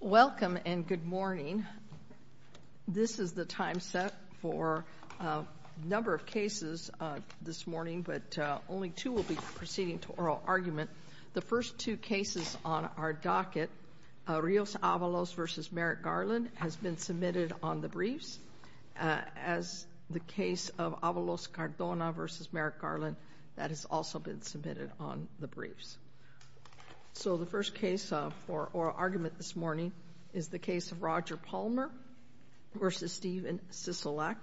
Welcome and good morning. This is the time set for a number of cases this morning, but only two will be proceeding to oral argument. The first two cases on our docket, Rios Avalos v. Merrick Garland, has been submitted on the briefs. As the case of Avalos Cardona v. Merrick Garland, that has also been submitted on the briefs. So the first case for oral argument this morning is the case of Roger Palmer v. Stephen Sisolak.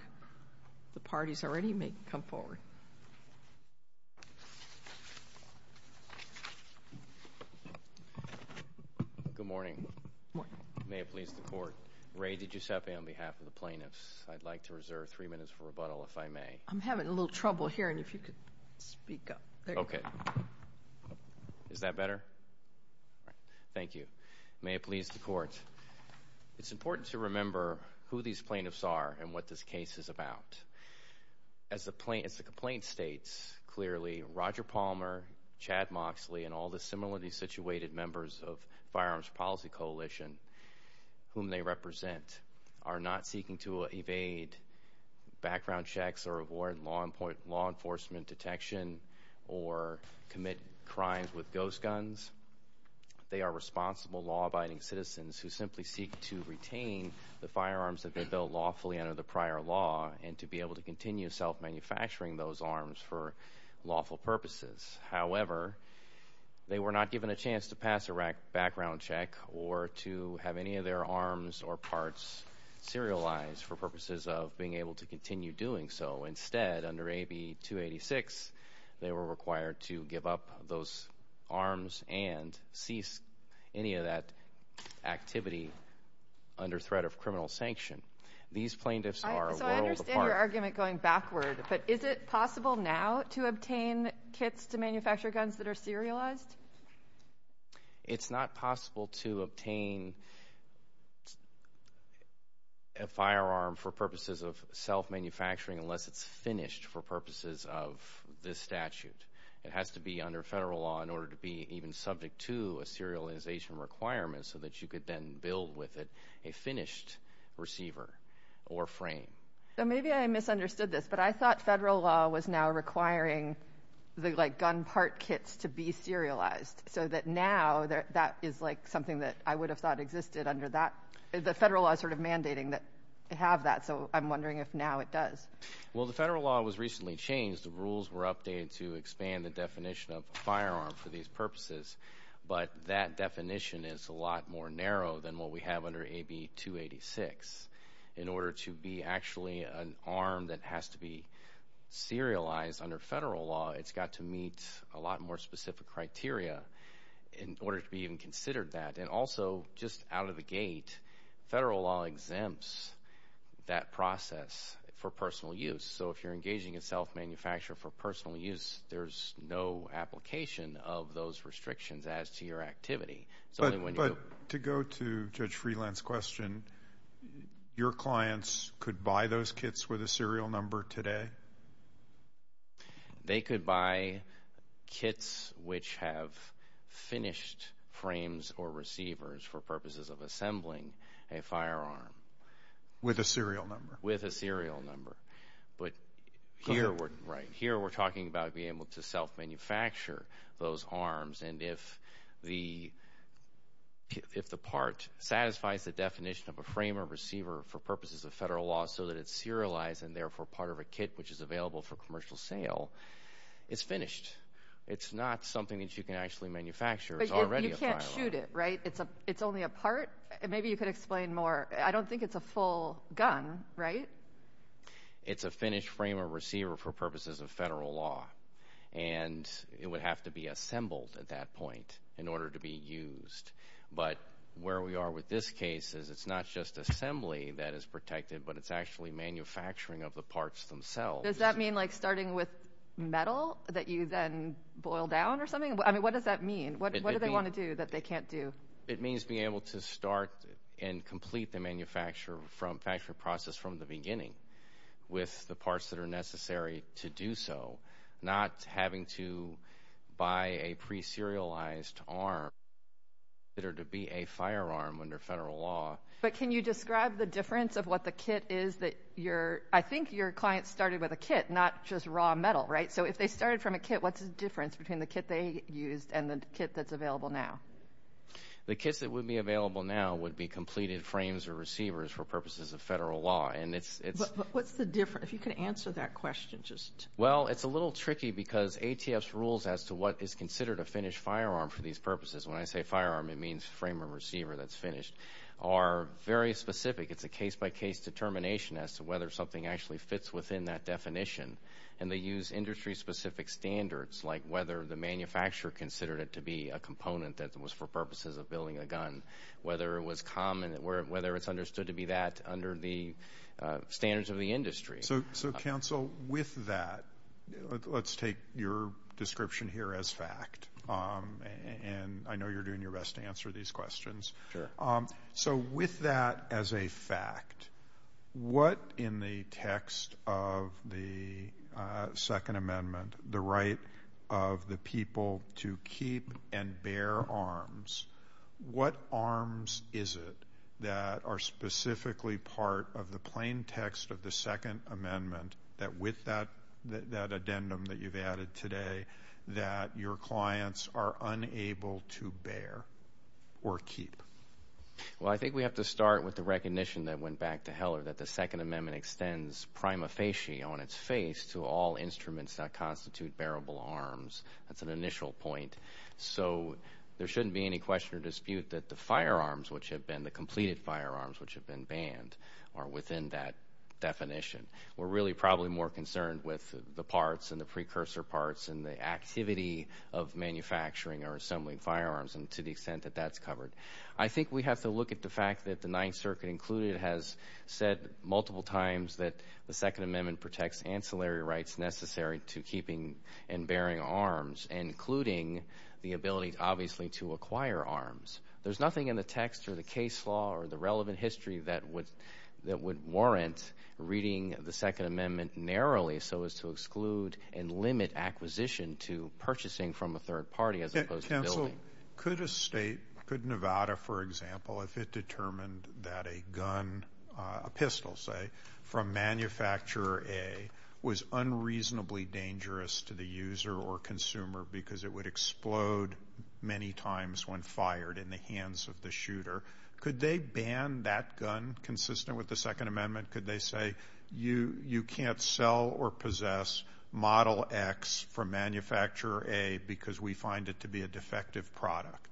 The parties already may come forward. Good morning. May it please the Court. Ray DiGiuseppe on behalf of the plaintiffs. I'd like to reserve three minutes for rebuttal, if I may. I'm having a little trouble hearing. If you could speak up. Okay. Is that better? Thank you. May it please the Court. It's important to remember who these plaintiffs are and what this case is about. As the complaint states, clearly Roger Palmer, Chad Moxley, and all the similarly situated members of Firearms Policy Coalition, whom they represent, are not seeking to evade background checks or avoid law enforcement detection or commit crimes with ghost guns. They are responsible, law-abiding citizens who simply seek to retain the firearms that they built lawfully under the prior law and to be able to continue self-manufacturing those arms for lawful purposes. However, they were not given a chance to pass a background check or to have any of their arms or parts serialized for purposes of being able to continue doing so. Instead, under AB 286, they were required to give up those arms and cease any of that activity under threat of criminal sanction. These plaintiffs are a world apart. So I understand your argument going backward, but is it possible now to obtain kits to manufacture guns that are serialized? It's not possible to obtain a firearm for purposes of self-manufacturing unless it's finished for purposes of this statute. It has to be under federal law in order to be even subject to a serialization requirement so that you could then build with it a finished receiver or frame. So maybe I misunderstood this, but I thought federal law was now requiring the gun part kits to be serialized, so that now that is something that I would have thought existed under that. The federal law is sort of mandating that you have that, so I'm wondering if now it does. Well, the federal law was recently changed. The rules were updated to expand the definition of a firearm for these purposes, but that definition is a lot more narrow than what we have under AB 286. In order to be actually an arm that has to be serialized under federal law, it's got to meet a lot more specific criteria in order to be even considered that. And also, just out of the gate, federal law exempts that process for personal use. So if you're engaging a self-manufacturer for personal use, there's no application of those restrictions as to your activity. But to go to Judge Freeland's question, your clients could buy those kits with a serial number today? They could buy kits which have finished frames or receivers for purposes of assembling a firearm. With a serial number. With a serial number. But here we're talking about being able to self-manufacture those If the part satisfies the definition of a frame or receiver for purposes of federal law so that it's serialized and therefore part of a kit which is available for commercial sale, it's finished. It's not something that you can actually manufacture. But you can't shoot it, right? It's only a part? Maybe you could explain more. I don't think it's a full gun, right? It's a finished frame or receiver for purposes of federal law. And it would have to be assembled at that point in order to be used. But where we are with this case is it's not just assembly that is protected, but it's actually manufacturing of the parts themselves. Does that mean like starting with metal that you then boil down or something? I mean, what does that mean? What do they want to do that they can't do? It means being able to start and complete the manufacturing process from the beginning with the parts that are necessary to do so, not having to buy a pre-serialized arm that are to be a firearm under federal law. But can you describe the difference of what the kit is that your, I think your client started with a kit, not just raw metal, right? So if they started from a kit, what's the difference between the kit they used and the kit that's available now? The kits that would be available now would be completed frames or receivers for purposes of federal law. But what's the difference? If you could answer that question, just... Well, it's a little tricky because ATF's rules as to what is considered a finished firearm for these purposes, when I say firearm, it means frame or receiver that's finished, are very specific. It's a case-by-case determination as to whether something actually fits within that definition. And they use industry-specific standards, like whether the manufacturer considered it to be a component that was for purposes of building a gun, whether it was common, whether it's understood to be that under the standards of the industry. So counsel, with that, let's take your description here as fact. And I know you're doing your best to answer these questions. So with that as a fact, what in the text of the Second Amendment, the right of the people to keep and bear arms, what arms is it that are specifically part of the plain text of the Second Amendment that with that addendum that you've added today, that your clients are unable to bear or keep? Well, I think we have to start with the recognition that went back to Heller, that the Second Amendment extends prima facie on its face to all instruments that constitute bearable arms. That's an initial point. So there shouldn't be any question or dispute that the firearms which have been, the completed firearms which have been banned are within that definition. We're really probably more concerned with the parts and the precursor parts and the activity of manufacturing or assembling firearms and to the extent that that's covered. I think we have to look at the fact that the Ninth Circuit included has said multiple times that the Second Amendment protects ancillary rights necessary to keeping and bearing arms including the ability obviously to acquire arms. There's nothing in the text or the case law or the relevant history that would warrant reading the Second Amendment narrowly so as to exclude and limit acquisition to purchasing from a third party as opposed to building. Could a state, could Nevada for example, if it determined that a gun, a pistol say, from Manufacturer A was unreasonably dangerous to the user or consumer because it would explode many times when fired in the hands of the shooter, could they ban that gun consistent with the Second Amendment? Could they say, you can't sell or possess Model X from Manufacturer A because we find it to be a defective product?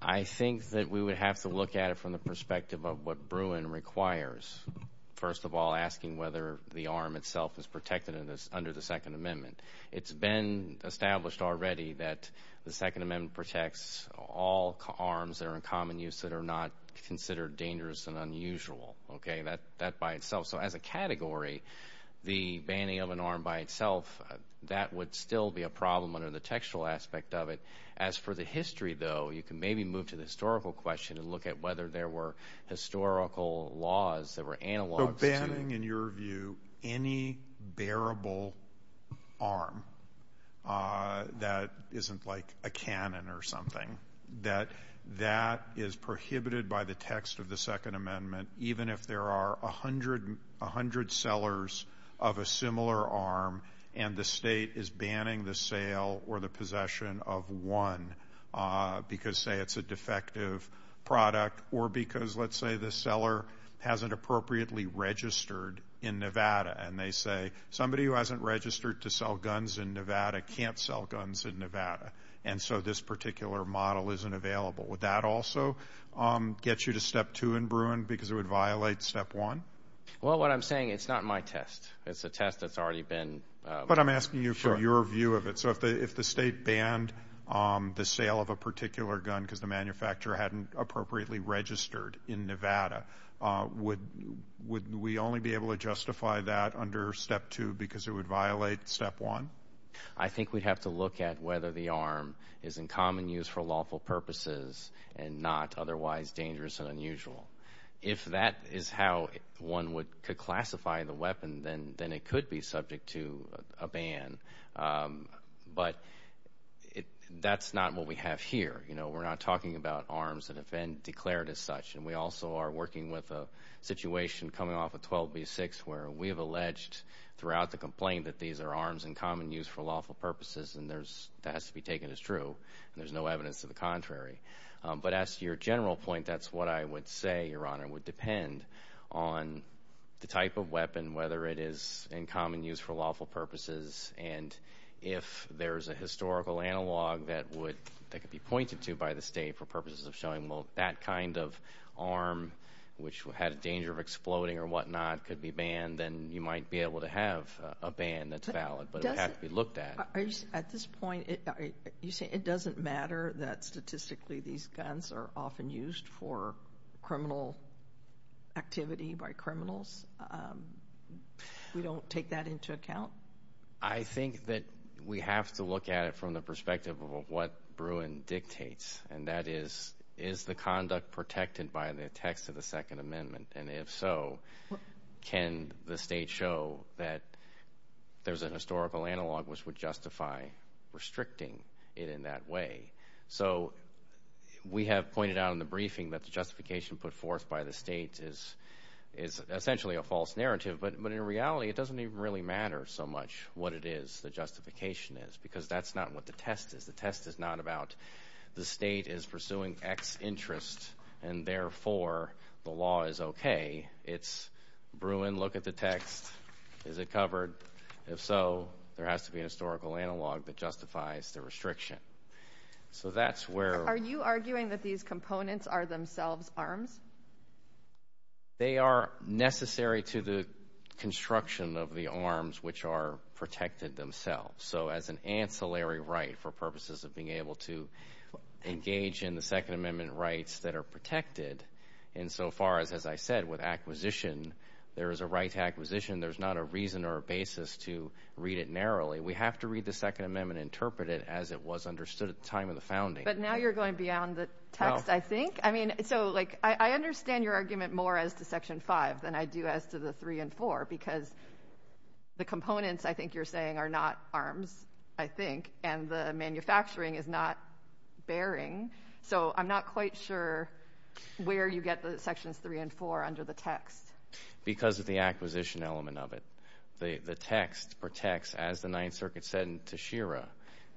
I think that we would have to look at it from the perspective of what Bruin requires. First of all, asking whether the arm itself is protected under the Second Amendment. It's been established already that the Second Amendment protects all arms that are in common use that are not considered dangerous and unusual, okay, that by itself. So as a category, the banning of an arm by itself, that would still be a problem under the textual aspect of it. As for the history though, you can maybe move to the historical laws that were analogs. So banning in your view any bearable arm that isn't like a cannon or something, that that is prohibited by the text of the Second Amendment even if there are a hundred sellers of a similar arm and the state is banning the sale or the possession of one because, say, it's a defective product or because, let's say, the seller hasn't appropriately registered in Nevada and they say, somebody who hasn't registered to sell guns in Nevada can't sell guns in Nevada and so this particular model isn't available. Would that also get you to step two in Bruin because it would violate step one? Well, what I'm saying, it's not my test. It's a test that's already been... But I'm asking you for your view of it. So if the state banned the sale of a particular gun because the manufacturer hadn't appropriately registered in Nevada, would we only be able to justify that under step two because it would violate step one? I think we'd have to look at whether the arm is in common use for lawful purposes and not otherwise dangerous and unusual. If that is how one could classify the weapon, then it could be subject to a ban. But that's not what we have here. We're not talking about arms that have been declared as such and we also are working with a situation coming off of 12b-6 where we have alleged throughout the complaint that these are arms in common use for lawful purposes and that has to be taken as true and there's no evidence to the contrary. But as to your general point, that's what I would say, Your Honor, would type of weapon, whether it is in common use for lawful purposes and if there's a historical analog that could be pointed to by the state for purposes of showing that kind of arm, which had a danger of exploding or whatnot, could be banned, then you might be able to have a ban that's valid. But it has to be looked at. At this point, you say it doesn't matter that statistically these guns are often used for criminal activity by criminals? We don't take that into account? I think that we have to look at it from the perspective of what Bruin dictates and that is, is the conduct protected by the text of the Second Amendment? And if so, can the state show that there's a historical analog which would justify restricting it in that way? So we have pointed out in the briefing that the justification put forth by the state is essentially a false narrative. But in reality, it doesn't even really matter so much what it is the justification is because that's not what the test is. The test is not about the state is pursuing X interest and therefore the law is okay. It's Bruin, look at the text. Is it covered? If so, there has to be a historical analog that justifies the restriction. Are you arguing that these components are themselves arms? They are necessary to the construction of the arms which are protected themselves. So as an ancillary right for purposes of being able to engage in the Second Amendment rights that are protected insofar as, as I said, with acquisition, there is a right to acquisition. There's not a reason or a basis to read it narrowly. We have to read the Second Amendment and interpret it as it was understood at the time of the founding. But now you're going beyond the text, I think. I mean, so like I understand your argument more as to Section 5 than I do as to the 3 and 4 because the components, I think you're saying, are not arms, I think, and the manufacturing is not bearing. So I'm not quite sure where you get the Sections 3 and 4 under the text. Because of the acquisition element of it. The text protects, as the Ninth Circuit said to Shira,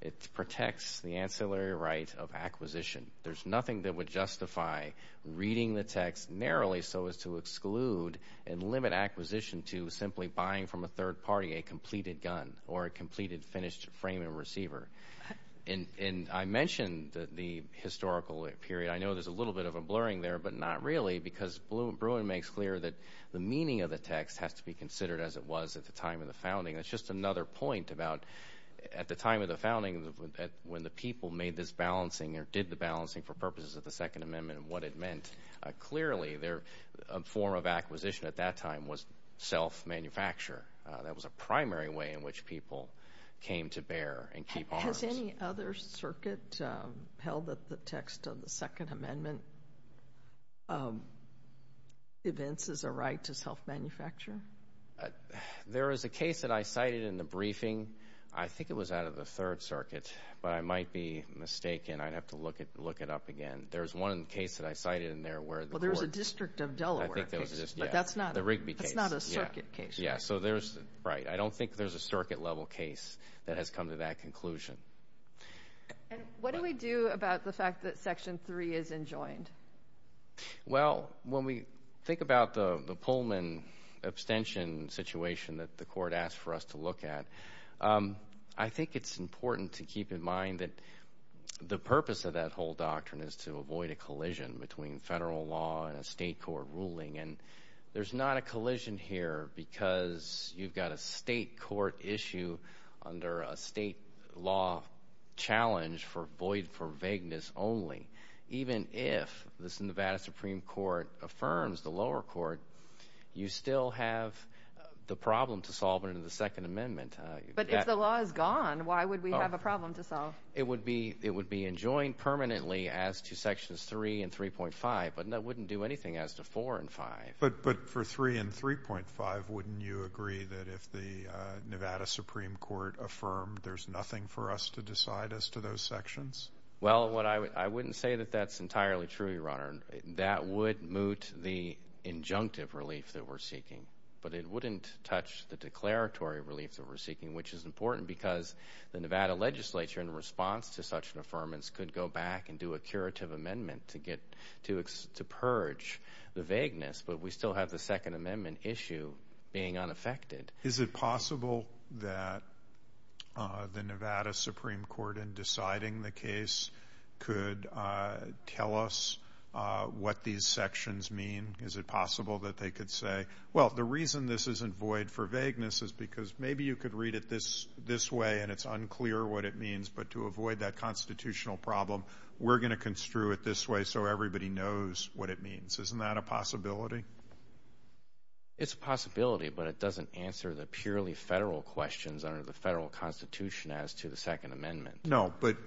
it protects the ancillary right of acquisition. There's nothing that would justify reading the text narrowly so as to exclude and limit acquisition to simply buying from a third party a completed gun or a completed finished frame and receiver. And I mentioned the historical period. I know there's a little bit of a blurring there, but not really because Bruin makes clear that the meaning of the text has to be considered as it was at the time of the founding. That's just another point about at the time of the founding when the people made this balancing or did the balancing for purposes of the Second Amendment and what it meant. Clearly, their form of acquisition at that time was self-manufacture. That was a primary way in which people came to bear and keep arms. Has any other circuit held that the text of the Second Amendment evinces a right to self-manufacture? There is a case that I cited in the briefing. I think it was out of the Third Circuit, but I might be mistaken. I'd have to look it up again. There's one case that I cited in there where the court... Well, there's a District of Delaware case, but that's not a circuit case. Right. I don't think there's a circuit level case that has come to that conclusion. What do we do about the fact that Section 3 is enjoined? Well, when we think about the Pullman abstention situation that the court asked for us to look at, I think it's important to keep in mind that the purpose of that whole doctrine is to avoid a collision between federal law and a state court ruling. There's not a collision here because you've got a state court issue under a state law challenge for void for vagueness only. Even if the Nevada Supreme Court affirms the lower court, you still have the problem to solve under the Second Amendment. But if the law is gone, why would we have a problem to solve? It would be enjoined permanently as to Sections 3 and 3.5, but that wouldn't do anything as to 4 and 5. But for 3 and 3.5, wouldn't you agree that if the Nevada Supreme Court affirmed, there's nothing for us to decide as to those sections? Well, I wouldn't say that that's entirely true, Your Honor. That would moot the injunctive relief that we're seeking, but it wouldn't touch the declaratory relief that we're seeking, which is important because the Nevada legislature, in response to such an affirmance, could go back and do a curative amendment to purge the vagueness, but we still have the Second Amendment issue being unaffected. Is it possible that the Nevada Supreme Court, in deciding the case, could tell us what these sections mean? Is it possible that they could say, well, the reason this isn't void for vagueness is because maybe you could read it this way and it's unclear what it means, but to avoid that constitutional problem, we're going to construe it this way so everybody knows what it means. Isn't that a possibility? It's a possibility, but it doesn't answer the purely federal questions under the federal Constitution as to the Second Amendment. No, but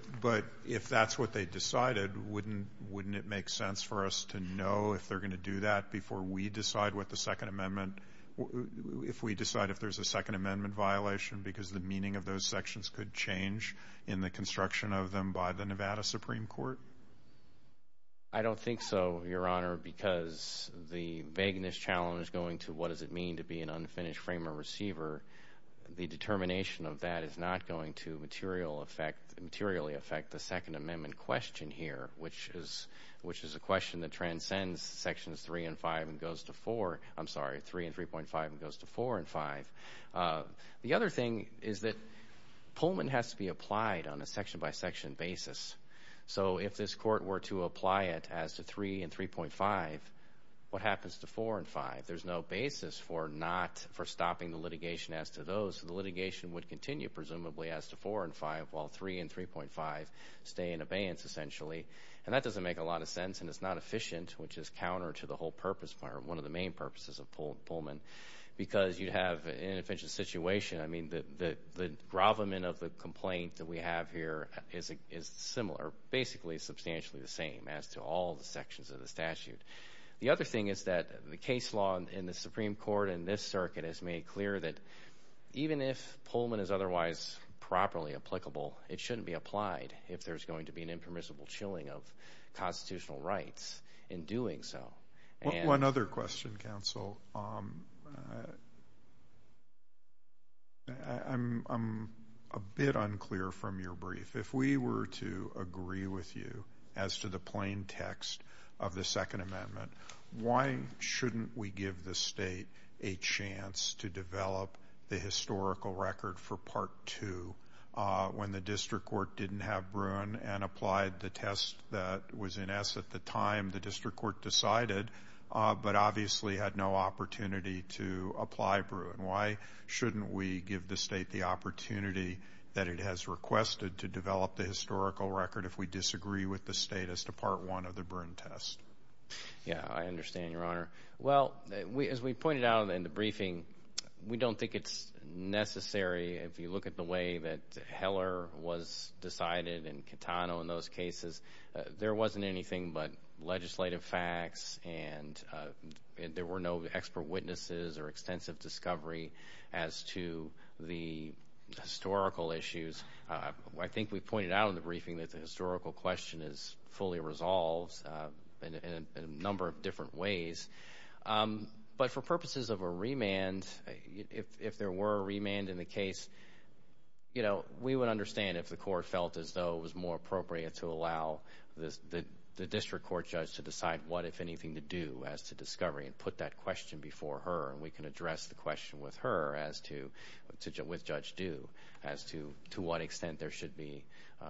if that's what they decided, wouldn't it make sense for us to know if they're going to do that before we decide what the Second Amendment if we decide if there's a Second Amendment violation because the meaning of those sections could change in the construction of them by the Nevada Supreme Court? I don't think so, Your Honor, because the vagueness challenge going to what does it mean to be an unfinished framer-receiver, the determination of that is not going to materially affect the Second Amendment question here, which is a question that transcends Sections 3 and 5 and goes to 4, I'm sorry, 3 and 3.5 and goes to 4 and 5. The other thing is that Pullman has to be applied on a section-by-section basis. So if this court were to apply it as to 3 and 3.5, what happens to 4 and 5? There's no basis for not, for stopping the litigation as to those. The litigation would continue presumably as to 4 and 5 while 3 and 3.5 stay in abeyance essentially and that doesn't make a lot of sense and it's not efficient, which is counter to the whole purpose, one of the main purposes of Pullman, because you'd have an inefficient situation. I mean, the grovelment of the complaint that we have here is similar, basically substantially the same as to all the sections of the statute. The other thing is that the case law in the Supreme Court and this circuit has made clear that even if Pullman is otherwise properly applicable, it shouldn't be applied if there's going to be an impermissible chilling of constitutional rights in doing so. One other question, counsel. I'm a bit unclear from your brief. If we were to agree with you as to the plain text of the Second Amendment, why shouldn't we give the state a chance to develop the historical record for Part 2 when the district court didn't have Bruin and applied the test that was in essence at the time the district court decided, but obviously had no opportunity to apply Bruin? Why shouldn't we give the state the opportunity that it has requested to develop the historical record if we disagree with the state as to Part 1 of the Bruin test? Yeah, I understand, Your Honor. Well, as we pointed out in the briefing, we don't think it's necessary. If you look at the way that Heller was decided and Catano in those cases, there wasn't anything but legislative facts and there were no expert witnesses or extensive discovery as to the historical issues. I think we pointed out in the briefing that the historical question is fully resolved in a number of different ways. But for purposes of a remand, if there were a remand in the case, you know, we would understand if the court felt as though it was more appropriate to allow the district court judge to decide what, if anything, to do as to discovery and put that question before her. And we can address the question with Judge Due as to what extent there should be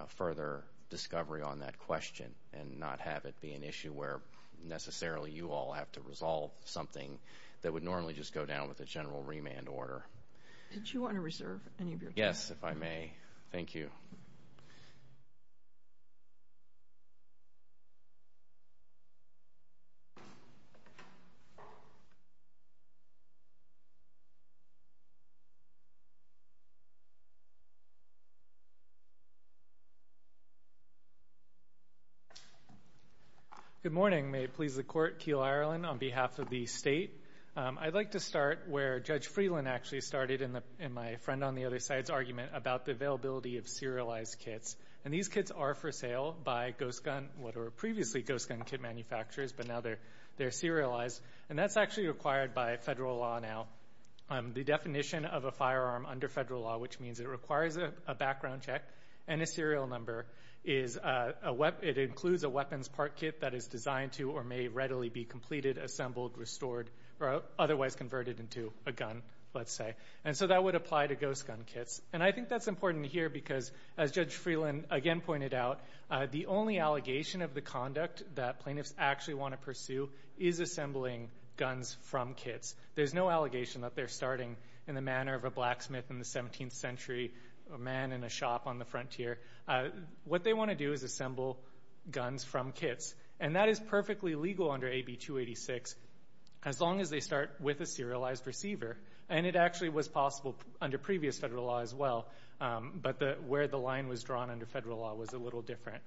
further discovery on that question and not have it be an issue where necessarily you all have to resolve something that would normally just go down with a general remand order. Did you want to reserve any of your time? Yes, if I may. Thank you. Good morning. May it please the court. Keel Ireland on behalf of the state. I'd like to start where Judge Freeland actually started in my friend on the other side's argument about the availability of serialized kits. And these kits are for sale by Ghost Gun, what were previously Ghost Gun kit manufacturers, but now they're serialized. And that's actually required by federal law now. The definition of a firearm under federal law, which means it requires a background check and a serial number, it includes a weapons part kit that is designed to or may readily be completed, assembled, restored, or otherwise converted into a gun, let's say. And so that would apply to Ghost Gun kits. And I think that's important here because, as Judge Freeland again pointed out, the only allegation of the conduct that from kits. There's no allegation that they're starting in the manner of a blacksmith in the 17th century, a man in a shop on the frontier. What they want to do is assemble guns from kits. And that is perfectly legal under AB 286, as long as they start with a serialized receiver. And it actually was possible under previous federal law as well, but where the line was drawn under federal law was a little different.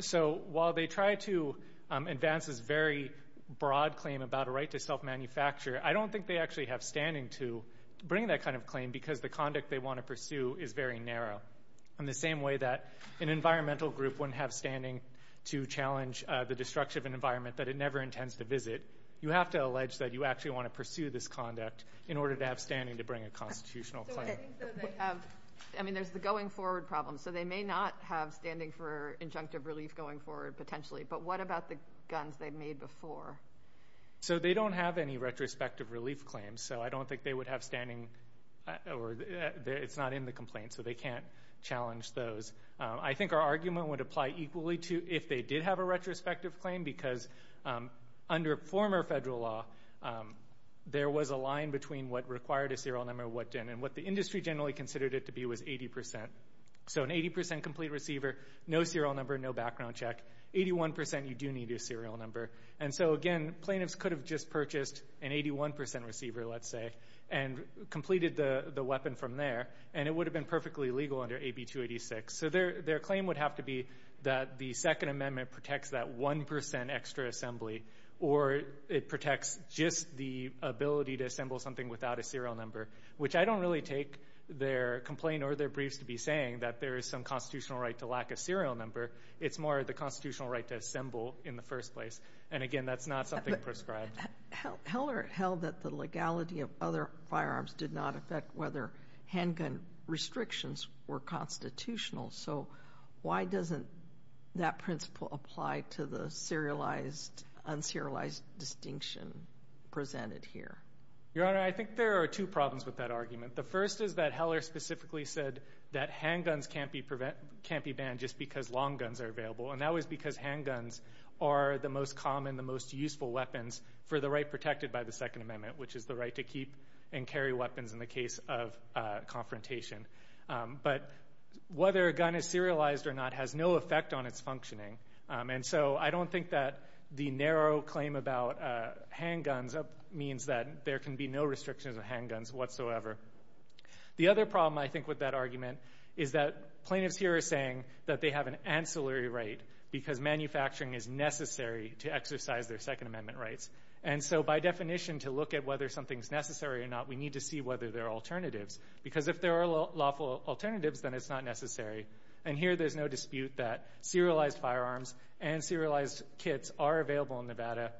So while they try to advance this very broad claim about a right to self-manufacture, I don't think they actually have standing to bring that kind of claim because the conduct they want to pursue is very narrow. In the same way that an environmental group wouldn't have standing to challenge the destruction of an environment that it never intends to visit, you have to allege that you actually want to pursue this conduct in order to have standing to bring a constitutional claim. So what I think though they have, I mean there's the going forward problem. So they may not have standing for injunctive relief going forward potentially, but what about the guns they've made before? So they don't have any retrospective relief claims. So I don't think they would have standing or it's not in the complaint. So they can't challenge those. I think our argument would apply equally to if they did have a retrospective claim because under former federal law, there was a line between what required a serial number and what didn't. And what the industry generally considered it to be was 80%. So an 80% complete receiver, no serial number, no background check. 81% you do need a serial number. And so again, plaintiffs could have just purchased an 81% receiver let's say and completed the weapon from there and it would have been perfectly legal under AB 286. So their claim would have to be that the Second Amendment protects that 1% extra assembly or it protects just the ability to assemble something without a serial number, which I don't really take their complaint or their it's more the constitutional right to assemble in the first place. And again, that's not something prescribed. Heller held that the legality of other firearms did not affect whether handgun restrictions were constitutional. So why doesn't that principle apply to the serialized, un-serialized distinction presented here? Your Honor, I think there are two problems with that argument. The first is that Heller specifically said that handguns can't be banned just because long guns are available. And that was because handguns are the most common, the most useful weapons for the right protected by the Second Amendment, which is the right to keep and carry weapons in the case of confrontation. But whether a gun is serialized or not has no effect on its functioning. And so I don't think that the narrow claim about handguns means that there can be no restrictions on handguns whatsoever. The other problem, I think, with that argument is that plaintiffs here are saying that they have an ancillary right because manufacturing is necessary to exercise their Second Amendment rights. And so by definition, to look at whether something's necessary or not, we need to see whether there are alternatives. Because if there are lawful alternatives, then it's not necessary. And here there's no dispute that serialized firearms and serialized kits are available in Nevada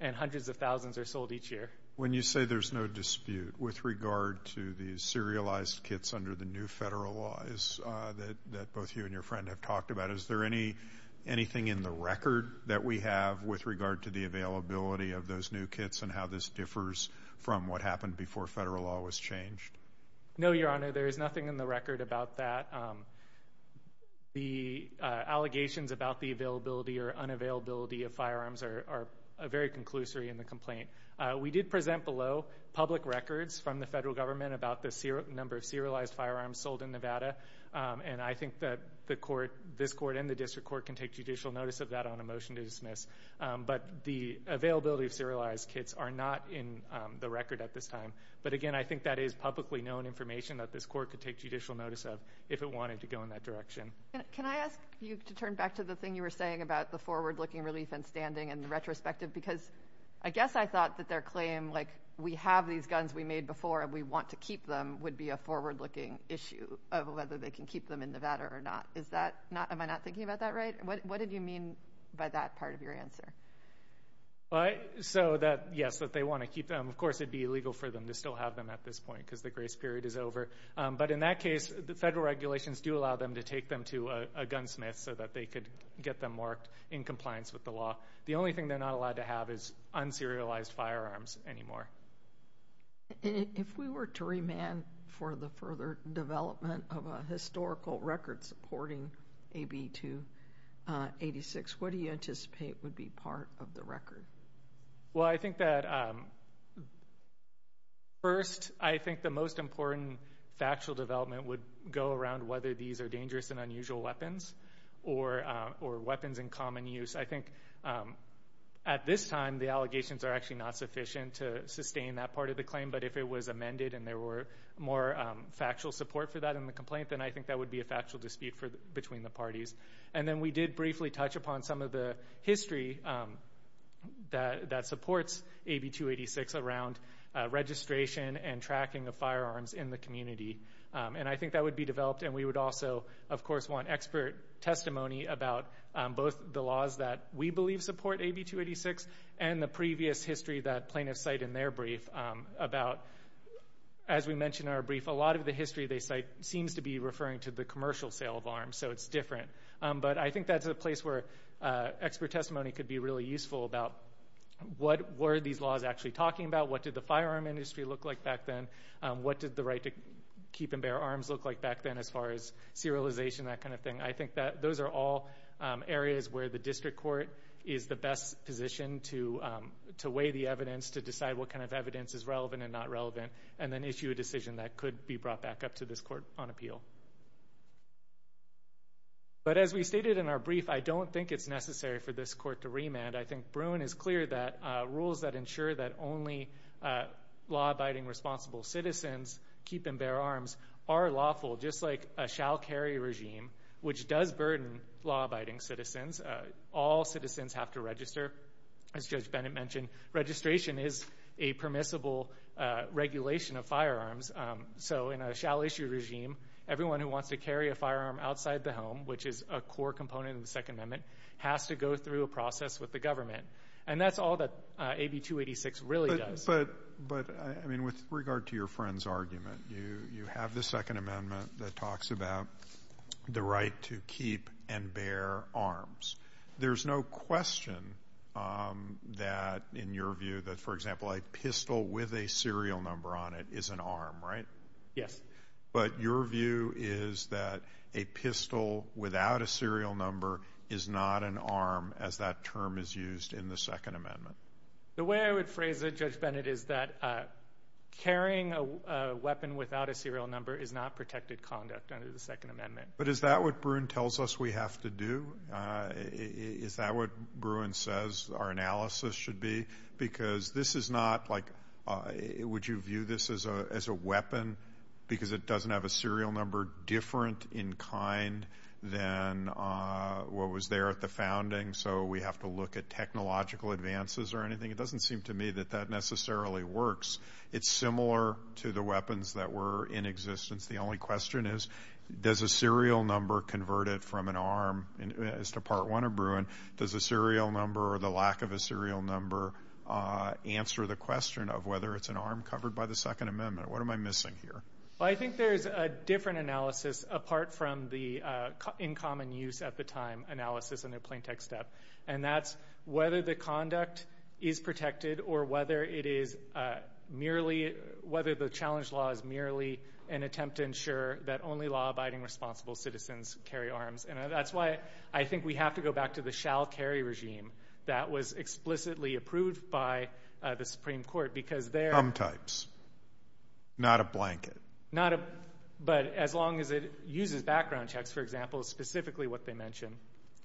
and hundreds of thousands are sold each year. When you say there's no dispute with regard to the serialized kits under the new federal law that both you and your friend have talked about, is there anything in the record that we have with regard to the availability of those new kits and how this differs from what happened before federal law was changed? No, Your Honor, there is nothing in the record about that. The allegations about the availability or unavailability of firearms are very conclusory in the complaint. We did present below public records from the federal government about the number of serialized firearms sold in Nevada. And I think that the court, this court and the district court, can take judicial notice of that on a motion to dismiss. But the availability of serialized kits are not in the record at this time. But again, I think that is publicly known information that this court could take judicial notice of if it wanted to go in that direction. Can I ask you to turn back to the thing you were saying about the forward-looking relief and standing in retrospective? Because I guess I thought that their claim, like, we have these guns we made before and we want to keep them, would be a forward-looking issue of whether they can keep them in Nevada or not. Is that not, am I not thinking about that right? What did you mean by that part of your answer? So that, yes, that they want to keep them. Of course, it'd be illegal for them to still have them at this point because the grace period is over. But in that case, the federal regulations do allow them to take them to a gunsmith so that they could get them marked in compliance with the law. The only thing they're not allowed to have is unserialized firearms anymore. If we were to remand for the further development of a historical record supporting AB 286, what do you anticipate would be part of the record? Well, I think that, first, I think the most important factual development would go around whether these are dangerous and unusual weapons or weapons in common use. I think at this time, the allegations are actually not sufficient to sustain that part of the claim. But if it was amended and there were more factual support for that in the complaint, then I think that would be a factual dispute between the parties. And then we did briefly touch upon some of the history that supports AB 286 around registration and tracking of firearms in the community. And I think that would be developed. And we would also, of course, want expert testimony about both the laws that we believe support AB 286 and the previous history that plaintiffs cite in their brief about, as we mentioned in our brief, a lot of the history they cite seems to be referring to the commercial sale of arms. So it's different. But I think that's a place where expert testimony could be really useful about what were these laws actually talking about? What did the firearm industry look like back then? What did the right to keep and bear arms look like back then as far as serialization, that kind of thing? I think that those are all areas where the district court is the best position to weigh the evidence, to decide what kind of evidence is relevant and not relevant, and then issue a decision that could be brought back up to this court on appeal. But as we stated in our brief, I don't think it's necessary for this court to remand. I arms are lawful, just like a shall carry regime, which does burden law-abiding citizens. All citizens have to register, as Judge Bennett mentioned. Registration is a permissible regulation of firearms. So in a shall issue regime, everyone who wants to carry a firearm outside the home, which is a core component of the Second Amendment, has to go through a process with the government. And that's all that AB 286 really does. But, I mean, with regard to your friend's argument, you have the Second Amendment that talks about the right to keep and bear arms. There's no question that, in your view, that, for example, a pistol with a serial number on it is an arm, right? Yes. But your view is that a pistol without a serial number is not an arm, as that term is used in the Second Amendment? The way I would phrase it, Judge Bennett, is that carrying a weapon without a serial number is not protected conduct under the Second Amendment. But is that what Bruin tells us we have to do? Is that what Bruin says our analysis should be? Because this is not, like, would you view this as a weapon because it doesn't have a serial number different in kind than what was there at the founding? So we have to look at technological advances or anything? It doesn't seem to me that that necessarily works. It's similar to the weapons that were in existence. The only question is, does a serial number converted from an arm, as to Part I of Bruin, does a serial number or the lack of a serial number answer the question of whether it's an arm covered by the Second Amendment? What am I missing here? Well, I think there's a different analysis apart from the in common use at the time analysis and the plain text step. And that's whether the conduct is protected or whether it is merely, whether the challenge law is merely an attempt to ensure that only law-abiding responsible citizens carry arms. And that's why I think we have to go back to the shall carry regime that was explicitly approved by the Supreme Court, because they're- Thumb types, not a blanket. Not a, but as long as it uses background checks, for example, specifically what they mentioned,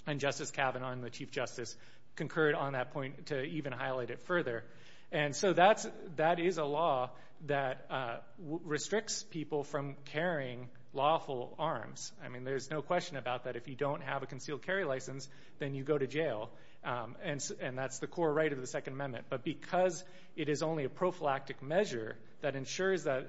and Justice Kavanaugh and the Chief Justice concurred on that point to even highlight it further. And so that is a law that restricts people from carrying lawful arms. I mean, there's no question about that. If you don't have a concealed carry license, then you go to jail. And that's the core right of the Second Amendment. But because it is only a prophylactic measure that ensures that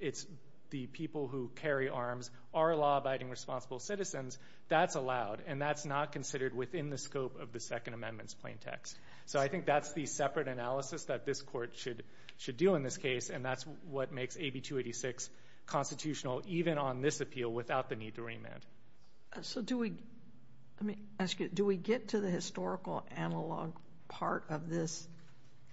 it's the people who carry arms are law-abiding responsible citizens, that's allowed. And that's not considered within the scope of the Second Amendment's plain text. So I think that's the separate analysis that this court should do in this case. And that's what makes AB 286 constitutional, even on this appeal, without the need to remand. So do we, let me ask you, do we get to the historical analog part of this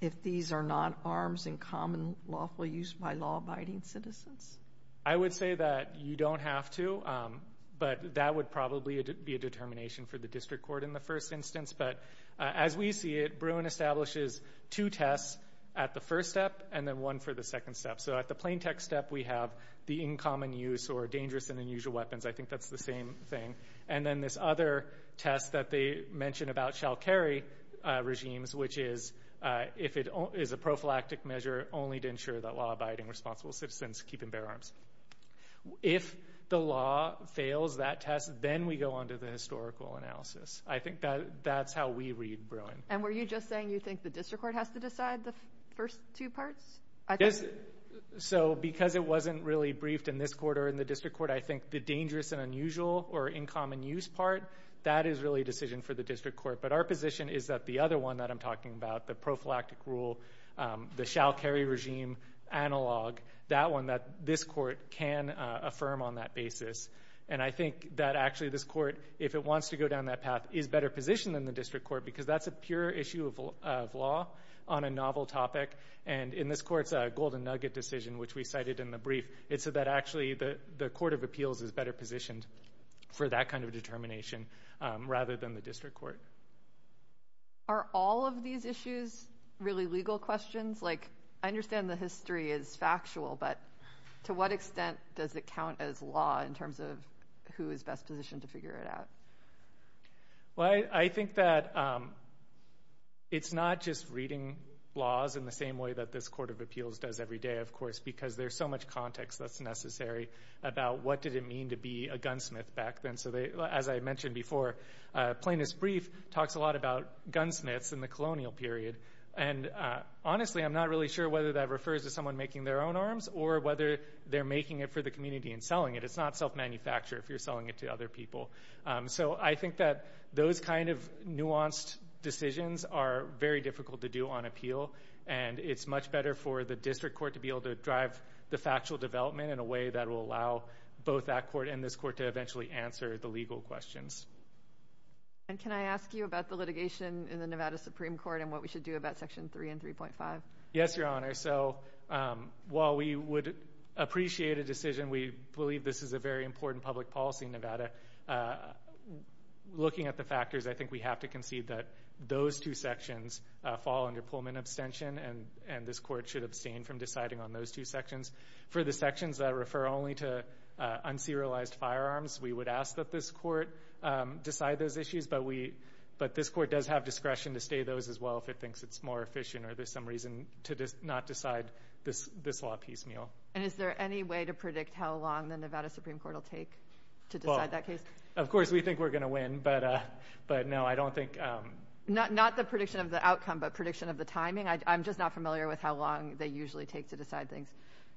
if these are not arms in common lawful use by law-abiding citizens? I would say that you don't have to. But that would probably be a determination for the district court in the first instance. But as we see it, Bruin establishes two tests at the first step and then one for the second step. So at the plain text step, we have the in common use or dangerous and unusual weapons. I think that's the same thing. And then this other test that they mentioned about shall carry regimes, which is if it is a prophylactic measure only to ensure that law-abiding responsible citizens keep and bear arms. If the law fails that test, then we go on to the historical analysis. I think that's how we read Bruin. And were you just saying you think the district court has to decide the first two parts? So because it wasn't really briefed in this court or in the district court, I think the dangerous and unusual or in common use part, that is really a decision for the district court. But our position is that the other one that I'm talking about, the prophylactic rule, the shall carry regime analog, that one that this court can affirm on that basis. And I think that actually this court, if it wants to go down that path, is better positioned in the district court because that's a pure issue of law on a novel topic. And in this court's golden nugget decision, which we cited in the brief, it's that actually the court of appeals is better positioned for that kind of determination rather than the district court. Are all of these issues really legal questions? Like, I understand the history is factual, but to what extent does it count as law in terms of who is best positioned to figure it out? Well, I think that it's not just reading laws in the same way that this court of appeals does every day, of course, because there's so much context that's necessary about what did it mean to be a gunsmith back then. So, as I mentioned before, Plaintiff's Brief talks a lot about gunsmiths in the colonial period. And honestly, I'm not really sure whether that refers to someone making their own arms or whether they're making it for the community and selling it. It's not self-manufactured if you're selling it to other people. So, I think that those kind of nuanced decisions are very difficult to do on appeal. And it's much better for the district court to be able to drive the factual development in a way that will allow both that court and this court to eventually answer the legal questions. And can I ask you about the litigation in the Nevada Supreme Court and what we should do about Section 3 and 3.5? Yes, Your Honor. So, while we would appreciate a decision, we believe this is a very important public policy in Nevada. Looking at the factors, I think we have to concede that those two sections fall under Pullman abstention and this court should abstain from deciding on those two sections. For the sections that refer only to un-serialized firearms, we would ask that this court decide those issues, but this court does have discretion to stay those as well if it thinks it's more efficient or there's some reason to not decide this law piecemeal. And is there any way to predict how long the Nevada Supreme Court will take to decide that case? Of course, we think we're going to win, but no, I don't think... Not the prediction of the outcome, but prediction of the timing. I'm just not familiar with how long they usually take to decide things.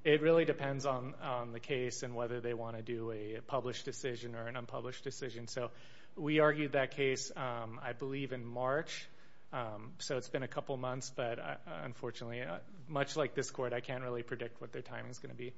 It really depends on the case and whether they want to do a published decision or an unpublished decision. So, we argued that case, I believe, in March. So, it's been a couple months, but unfortunately, much like this court, I can't really predict what their timing is going to be.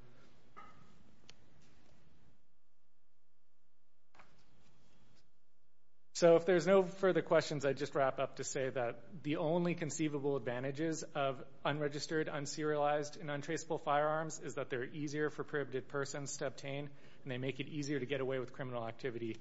So, if there's no further questions, I'd just wrap up to say that the only conceivable advantages of unregistered, un-serialized, and untraceable firearms is that they're easier for prohibited persons to obtain and they make it easier to get away with criminal activity.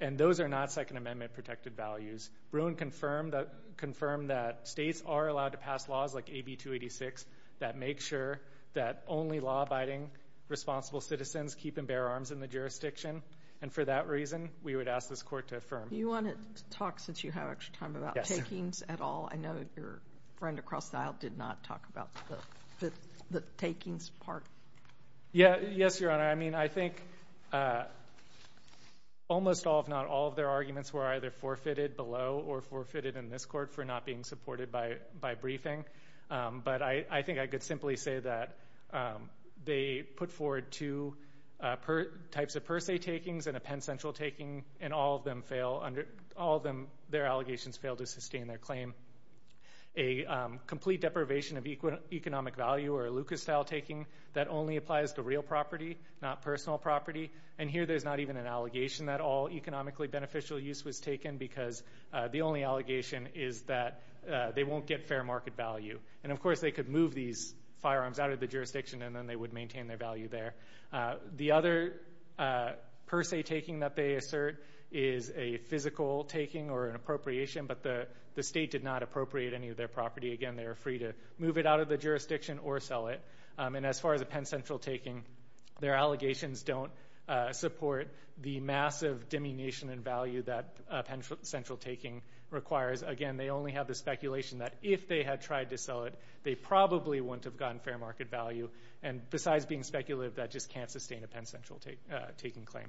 And those are not Second Amendment protected values. Bruin confirmed that states are allowed to pass laws like AB-286 that make sure that only law-abiding responsible citizens keep and bear arms in the jurisdiction. And for that reason, we would ask this court to affirm. You want to talk, since you have extra time, about takings at all? I know your friend across the aisle did not talk about the takings part. Yeah. Yes, Your Honor. I mean, I think almost all, if not all, of their arguments were either forfeited below or forfeited in this court for not being supported by briefing. But I think I could simply say that they put forward two types of per se takings and a Penn Central taking and all of them fail, all of their allegations fail to sustain their claim. A complete deprivation of economic value or Lucas-style taking that only applies to real property, not personal property. And here there's not even an allegation that all economically beneficial use was taken because the only allegation is that they won't get fair market value. And of course, they could move these firearms out of the jurisdiction and then they would maintain their value there. The other per se taking that they assert is a physical taking or an appropriation, but the state did not appropriate any of their property. Again, they are free to move it out of the jurisdiction or sell it. And as far as a Penn Central taking, their allegations don't support the massive diminution in value that a Penn Central taking requires. Again, they only have the speculation that if they had tried to sell it, they probably wouldn't have gotten fair market value. And besides being speculative, that just can't sustain a Penn Central taking claim.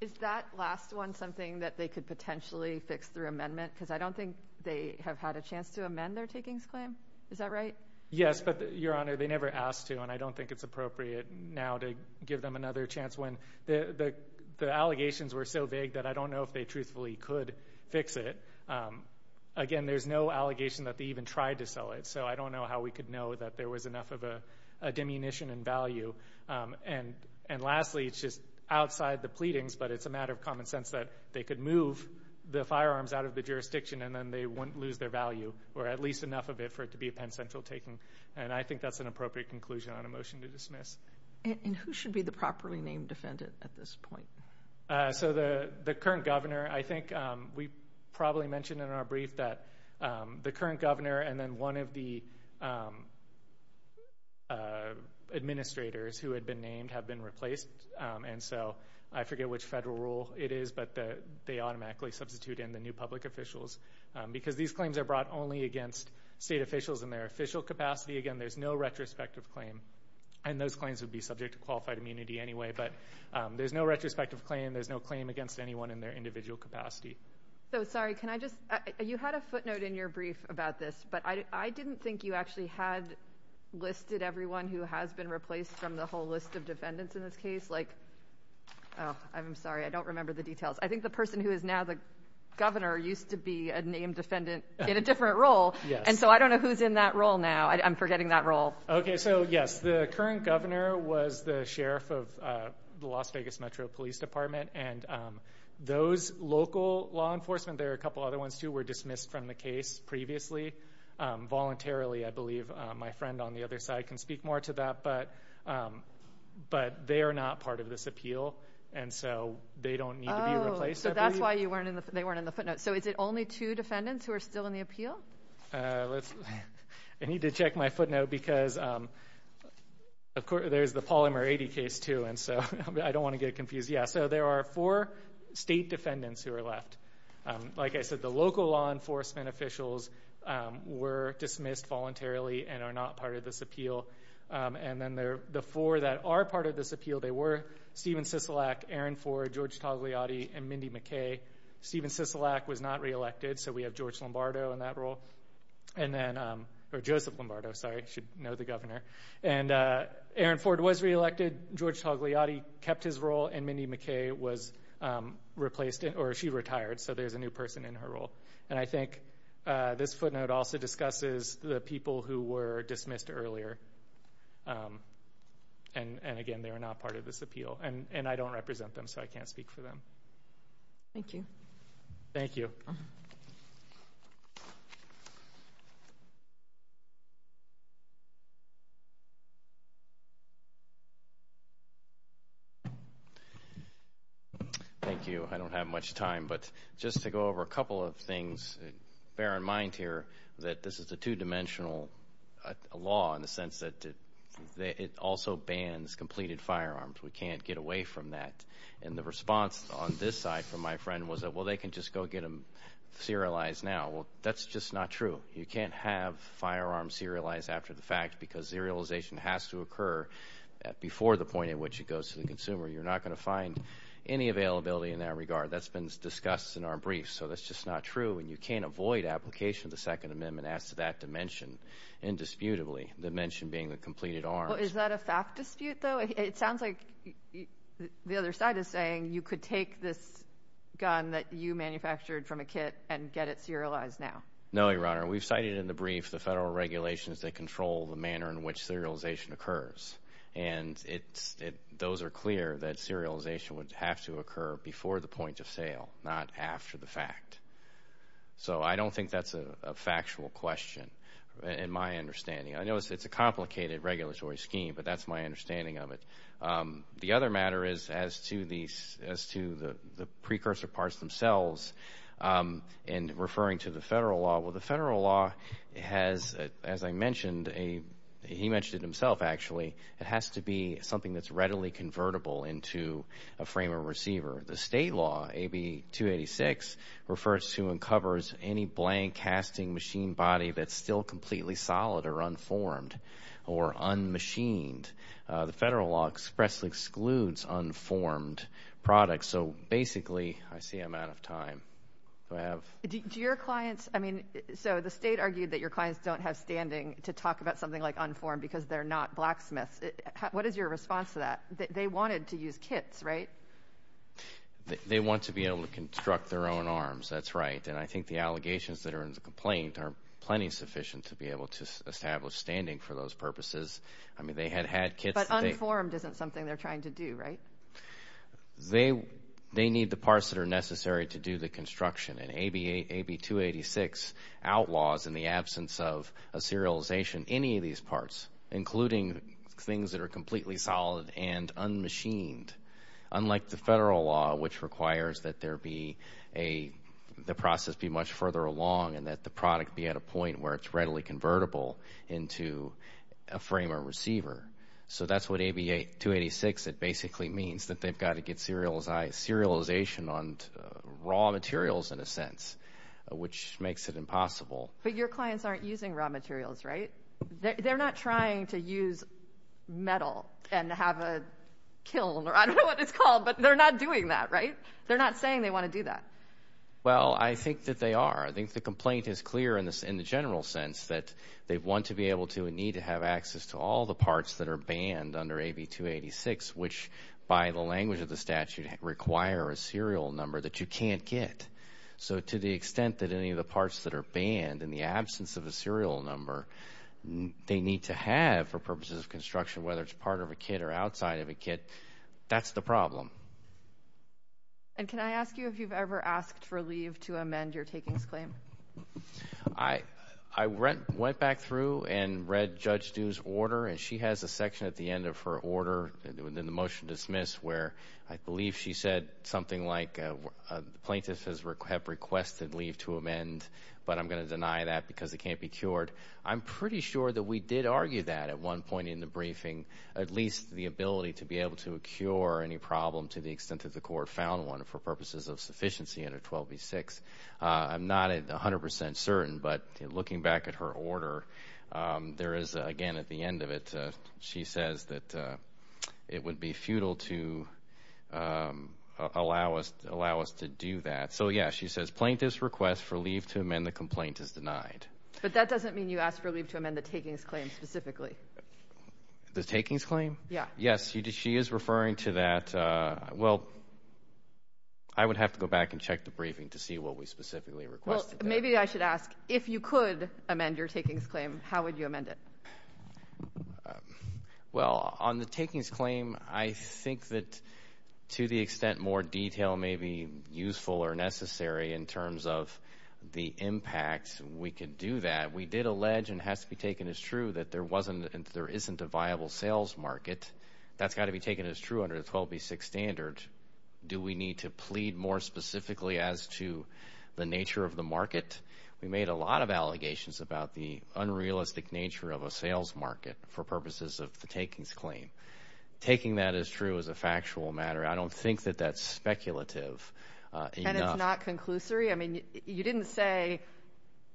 Is that last one something that they could potentially fix through amendment? Because I don't think they have had a chance to amend their takings claim. Is that right? Yes, but Your Honor, they never asked to and I don't think it's appropriate now to give them another chance when the allegations were so vague that I don't know if they truthfully could fix it. Again, there's no allegation that they even tried to sell it, so I don't know how we could know that there was enough of a diminution in value. And lastly, it's just outside the pleadings, but it's a matter of common sense that they could move the firearms out of the jurisdiction and then they wouldn't lose their value, or at least enough of it for it to be a Penn Central taking. And I think that's an appropriate conclusion on a motion to dismiss. And who should be the properly named defendant at this point? So the current governor, I think we probably mentioned in our brief that the current governor and then one of the administrators who had been named have been replaced, and so I forget which federal rule it is, but they automatically substitute in the new public officials. Because these claims are brought only against state officials in their official capacity. Again, there's no retrospective claim, and those claims would be subject to qualified immunity anyway, but there's no retrospective claim, there's no claim against anyone in their individual capacity. So, sorry, can I just, you had a footnote in your brief about this, but I didn't think you actually had listed everyone who has been replaced from the whole list of defendants in this case. Like, oh, I'm sorry, I don't remember the details. I think the person who is now the governor used to be a named defendant in a different role, and so I don't know who's in that role now. I'm forgetting that role. Okay, so yes, the current governor was the sheriff of the Las Vegas Metro Police Department, and those local law enforcement, there are a couple other ones too, were dismissed from the case previously. Voluntarily, I believe my friend on the other side can speak more to that, but they are not part of this appeal, and so they don't need to be replaced, I believe. Oh, so that's why they weren't in the footnote. So is it only two defendants who are still in the appeal? I need to check my footnote, because there's the Polymer 80 case too, and so I don't want to get confused. Yeah, so there are four state defendants who are left. Like I said, the local law enforcement officials were dismissed voluntarily and are not part of this appeal, and then the four that are part of this appeal, they were Stephen Sisolak, Aaron Ford, George Togliatti, and Mindy McKay. Stephen Sisolak was not reelected, so we have George Lombardo in that role, or Joseph Lombardo, sorry, you should know the governor. And Aaron Ford was reelected, George Togliatti kept his role, and Mindy McKay was replaced, or she retired, so there's a new person in her role. And I think this footnote also discusses the people who were dismissed earlier, and again, they are not part of this appeal, and I don't represent them, so I can't speak for them. Thank you. Thank you. Thank you, I don't have much time, but just to go over a couple of things, bear in mind here that this is a two-dimensional law in the sense that it also bans completed firearms. We can't get away from that, and the response on this side from my friend was that, well, they can just go get them serialized now. Well, that's just not true. You can't have firearms serialized after the fact because serialization has to occur before the point at which it goes to the consumer. You're not going to find any availability in that regard. That's been discussed in our briefs, so that's just not true, and you can't avoid application of the Second Amendment as to that dimension indisputably, the dimension being the completed arms. Is that a fact dispute, though? It sounds like the other side is saying you could take this gun that you manufactured from a kit and get it serialized now. No, Your Honor, we've cited in the brief the federal regulations that control the manner in which serialization occurs, and those are clear that serialization would have to occur before the point of sale, not after the fact. So I don't think that's a factual question in my understanding. I know it's a complicated regulatory scheme, but that's my understanding of it. The other matter is as to the precursor parts themselves and referring to the federal law, well, the federal law has, as I mentioned, he mentioned it himself, actually, it has to be something that's readily convertible into a frame of receiver. The state law, AB 286, refers to and covers any blank casting machine body that's still completely solid or unformed or un-machined. The federal law expressly excludes unformed products, so basically, I see I'm out of time. Do I have? Do your clients, I mean, so the state argued that your clients don't have standing to talk about something like unformed because they're not blacksmiths. What is your response to that? They wanted to use kits, right? They want to be able to construct their own arms, that's right, and I think the allegations that are in the complaint are plenty sufficient to be able to establish standing for those purposes. I mean, they had had kits. But unformed isn't something they're trying to do, right? They need the parts that are necessary to do the these parts, including things that are completely solid and un-machined, unlike the federal law, which requires that there be a, the process be much further along and that the product be at a point where it's readily convertible into a frame or receiver. So that's what AB 286, it basically means that they've got to get serialization on raw materials, in a sense, which makes it impossible. But your clients aren't using raw materials, right? They're not trying to use metal and have a kiln, or I don't know what it's called, but they're not doing that, right? They're not saying they want to do that. Well, I think that they are. I think the complaint is clear in the general sense that they want to be able to and need to have access to all the parts that are banned under AB 286, which by the language of the statute require a serial number that you can't get. So to the extent that any of the parts that are banned in the absence of a serial number, they need to have for purposes of construction, whether it's part of a kit or outside of a kit, that's the problem. And can I ask you if you've ever asked for leave to amend your takings claim? I went back through and read Judge Due's order, and she has a section at the end of her order in the motion to dismiss where I believe she said something like, plaintiffs have requested leave to amend, but I'm going to deny that because it can't be cured. I'm pretty sure that we did argue that at one point in the briefing, at least the ability to be able to cure any problem to the extent that the court found one for purposes of sufficiency under 12B6. I'm not 100 percent certain, but looking back at her order, there is again at the end of it, she says that it would be futile to allow us to do that. So yeah, she says plaintiffs request for leave to amend the complaint is denied. But that doesn't mean you asked for leave to amend the takings claim specifically. The takings claim? Yeah. Yes, she is referring to that. Well, I would have to go back and check the briefing to see what we specifically requested. Maybe I should ask, if you could amend your takings claim, how would you amend it? Well, on the takings claim, I think that to the extent more detail may be useful or necessary in terms of the impacts, we could do that. We did allege and has to be taken as true that there isn't a viable sales market. That's got to be taken as true under the 12B6 standard. Do we need to plead more specifically as to the nature of the market? We made a lot of allegations about the unrealistic nature of a sales market for purposes of the takings claim. Taking that as true as a factual matter, I don't think that that's speculative enough. And it's not conclusory? I mean, you didn't say,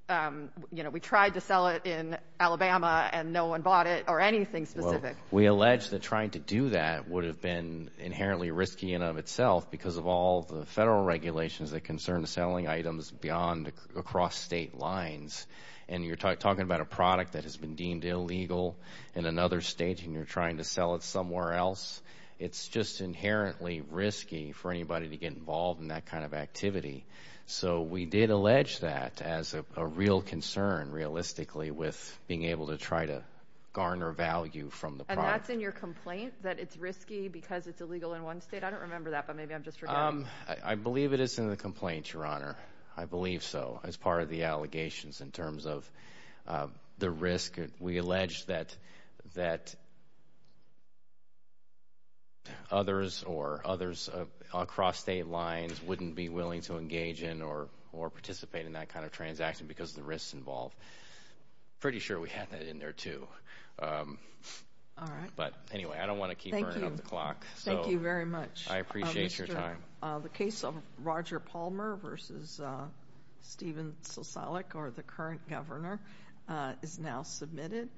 you know, we tried to sell it in Alabama and no one bought it or anything specific. We allege that trying to do that would have been inherently risky in and of itself because of all the federal regulations that concern selling items beyond across state lines. And you're talking about a product that has been deemed illegal in another state and you're trying to sell it somewhere else. It's just inherently risky for anybody to get involved in that kind of activity. So we did allege that as a real concern, realistically, with being able to try to garner value from the product. And that's in your complaint that it's risky because it's illegal in one state? I don't remember that, but maybe I'm just forgetting. I believe it is in the complaint, Your Honor. I believe so. As part of the allegations in terms of the risk, we allege that others or others across state lines wouldn't be willing to engage in or participate in that kind of transaction because of the risks involved. Pretty sure we had that in there, too. But anyway, I don't want to keep burning up the clock. Thank you very much. I appreciate your time. The case of Roger Palmer v. Stephen Soselic, or the current governor, is now submitted.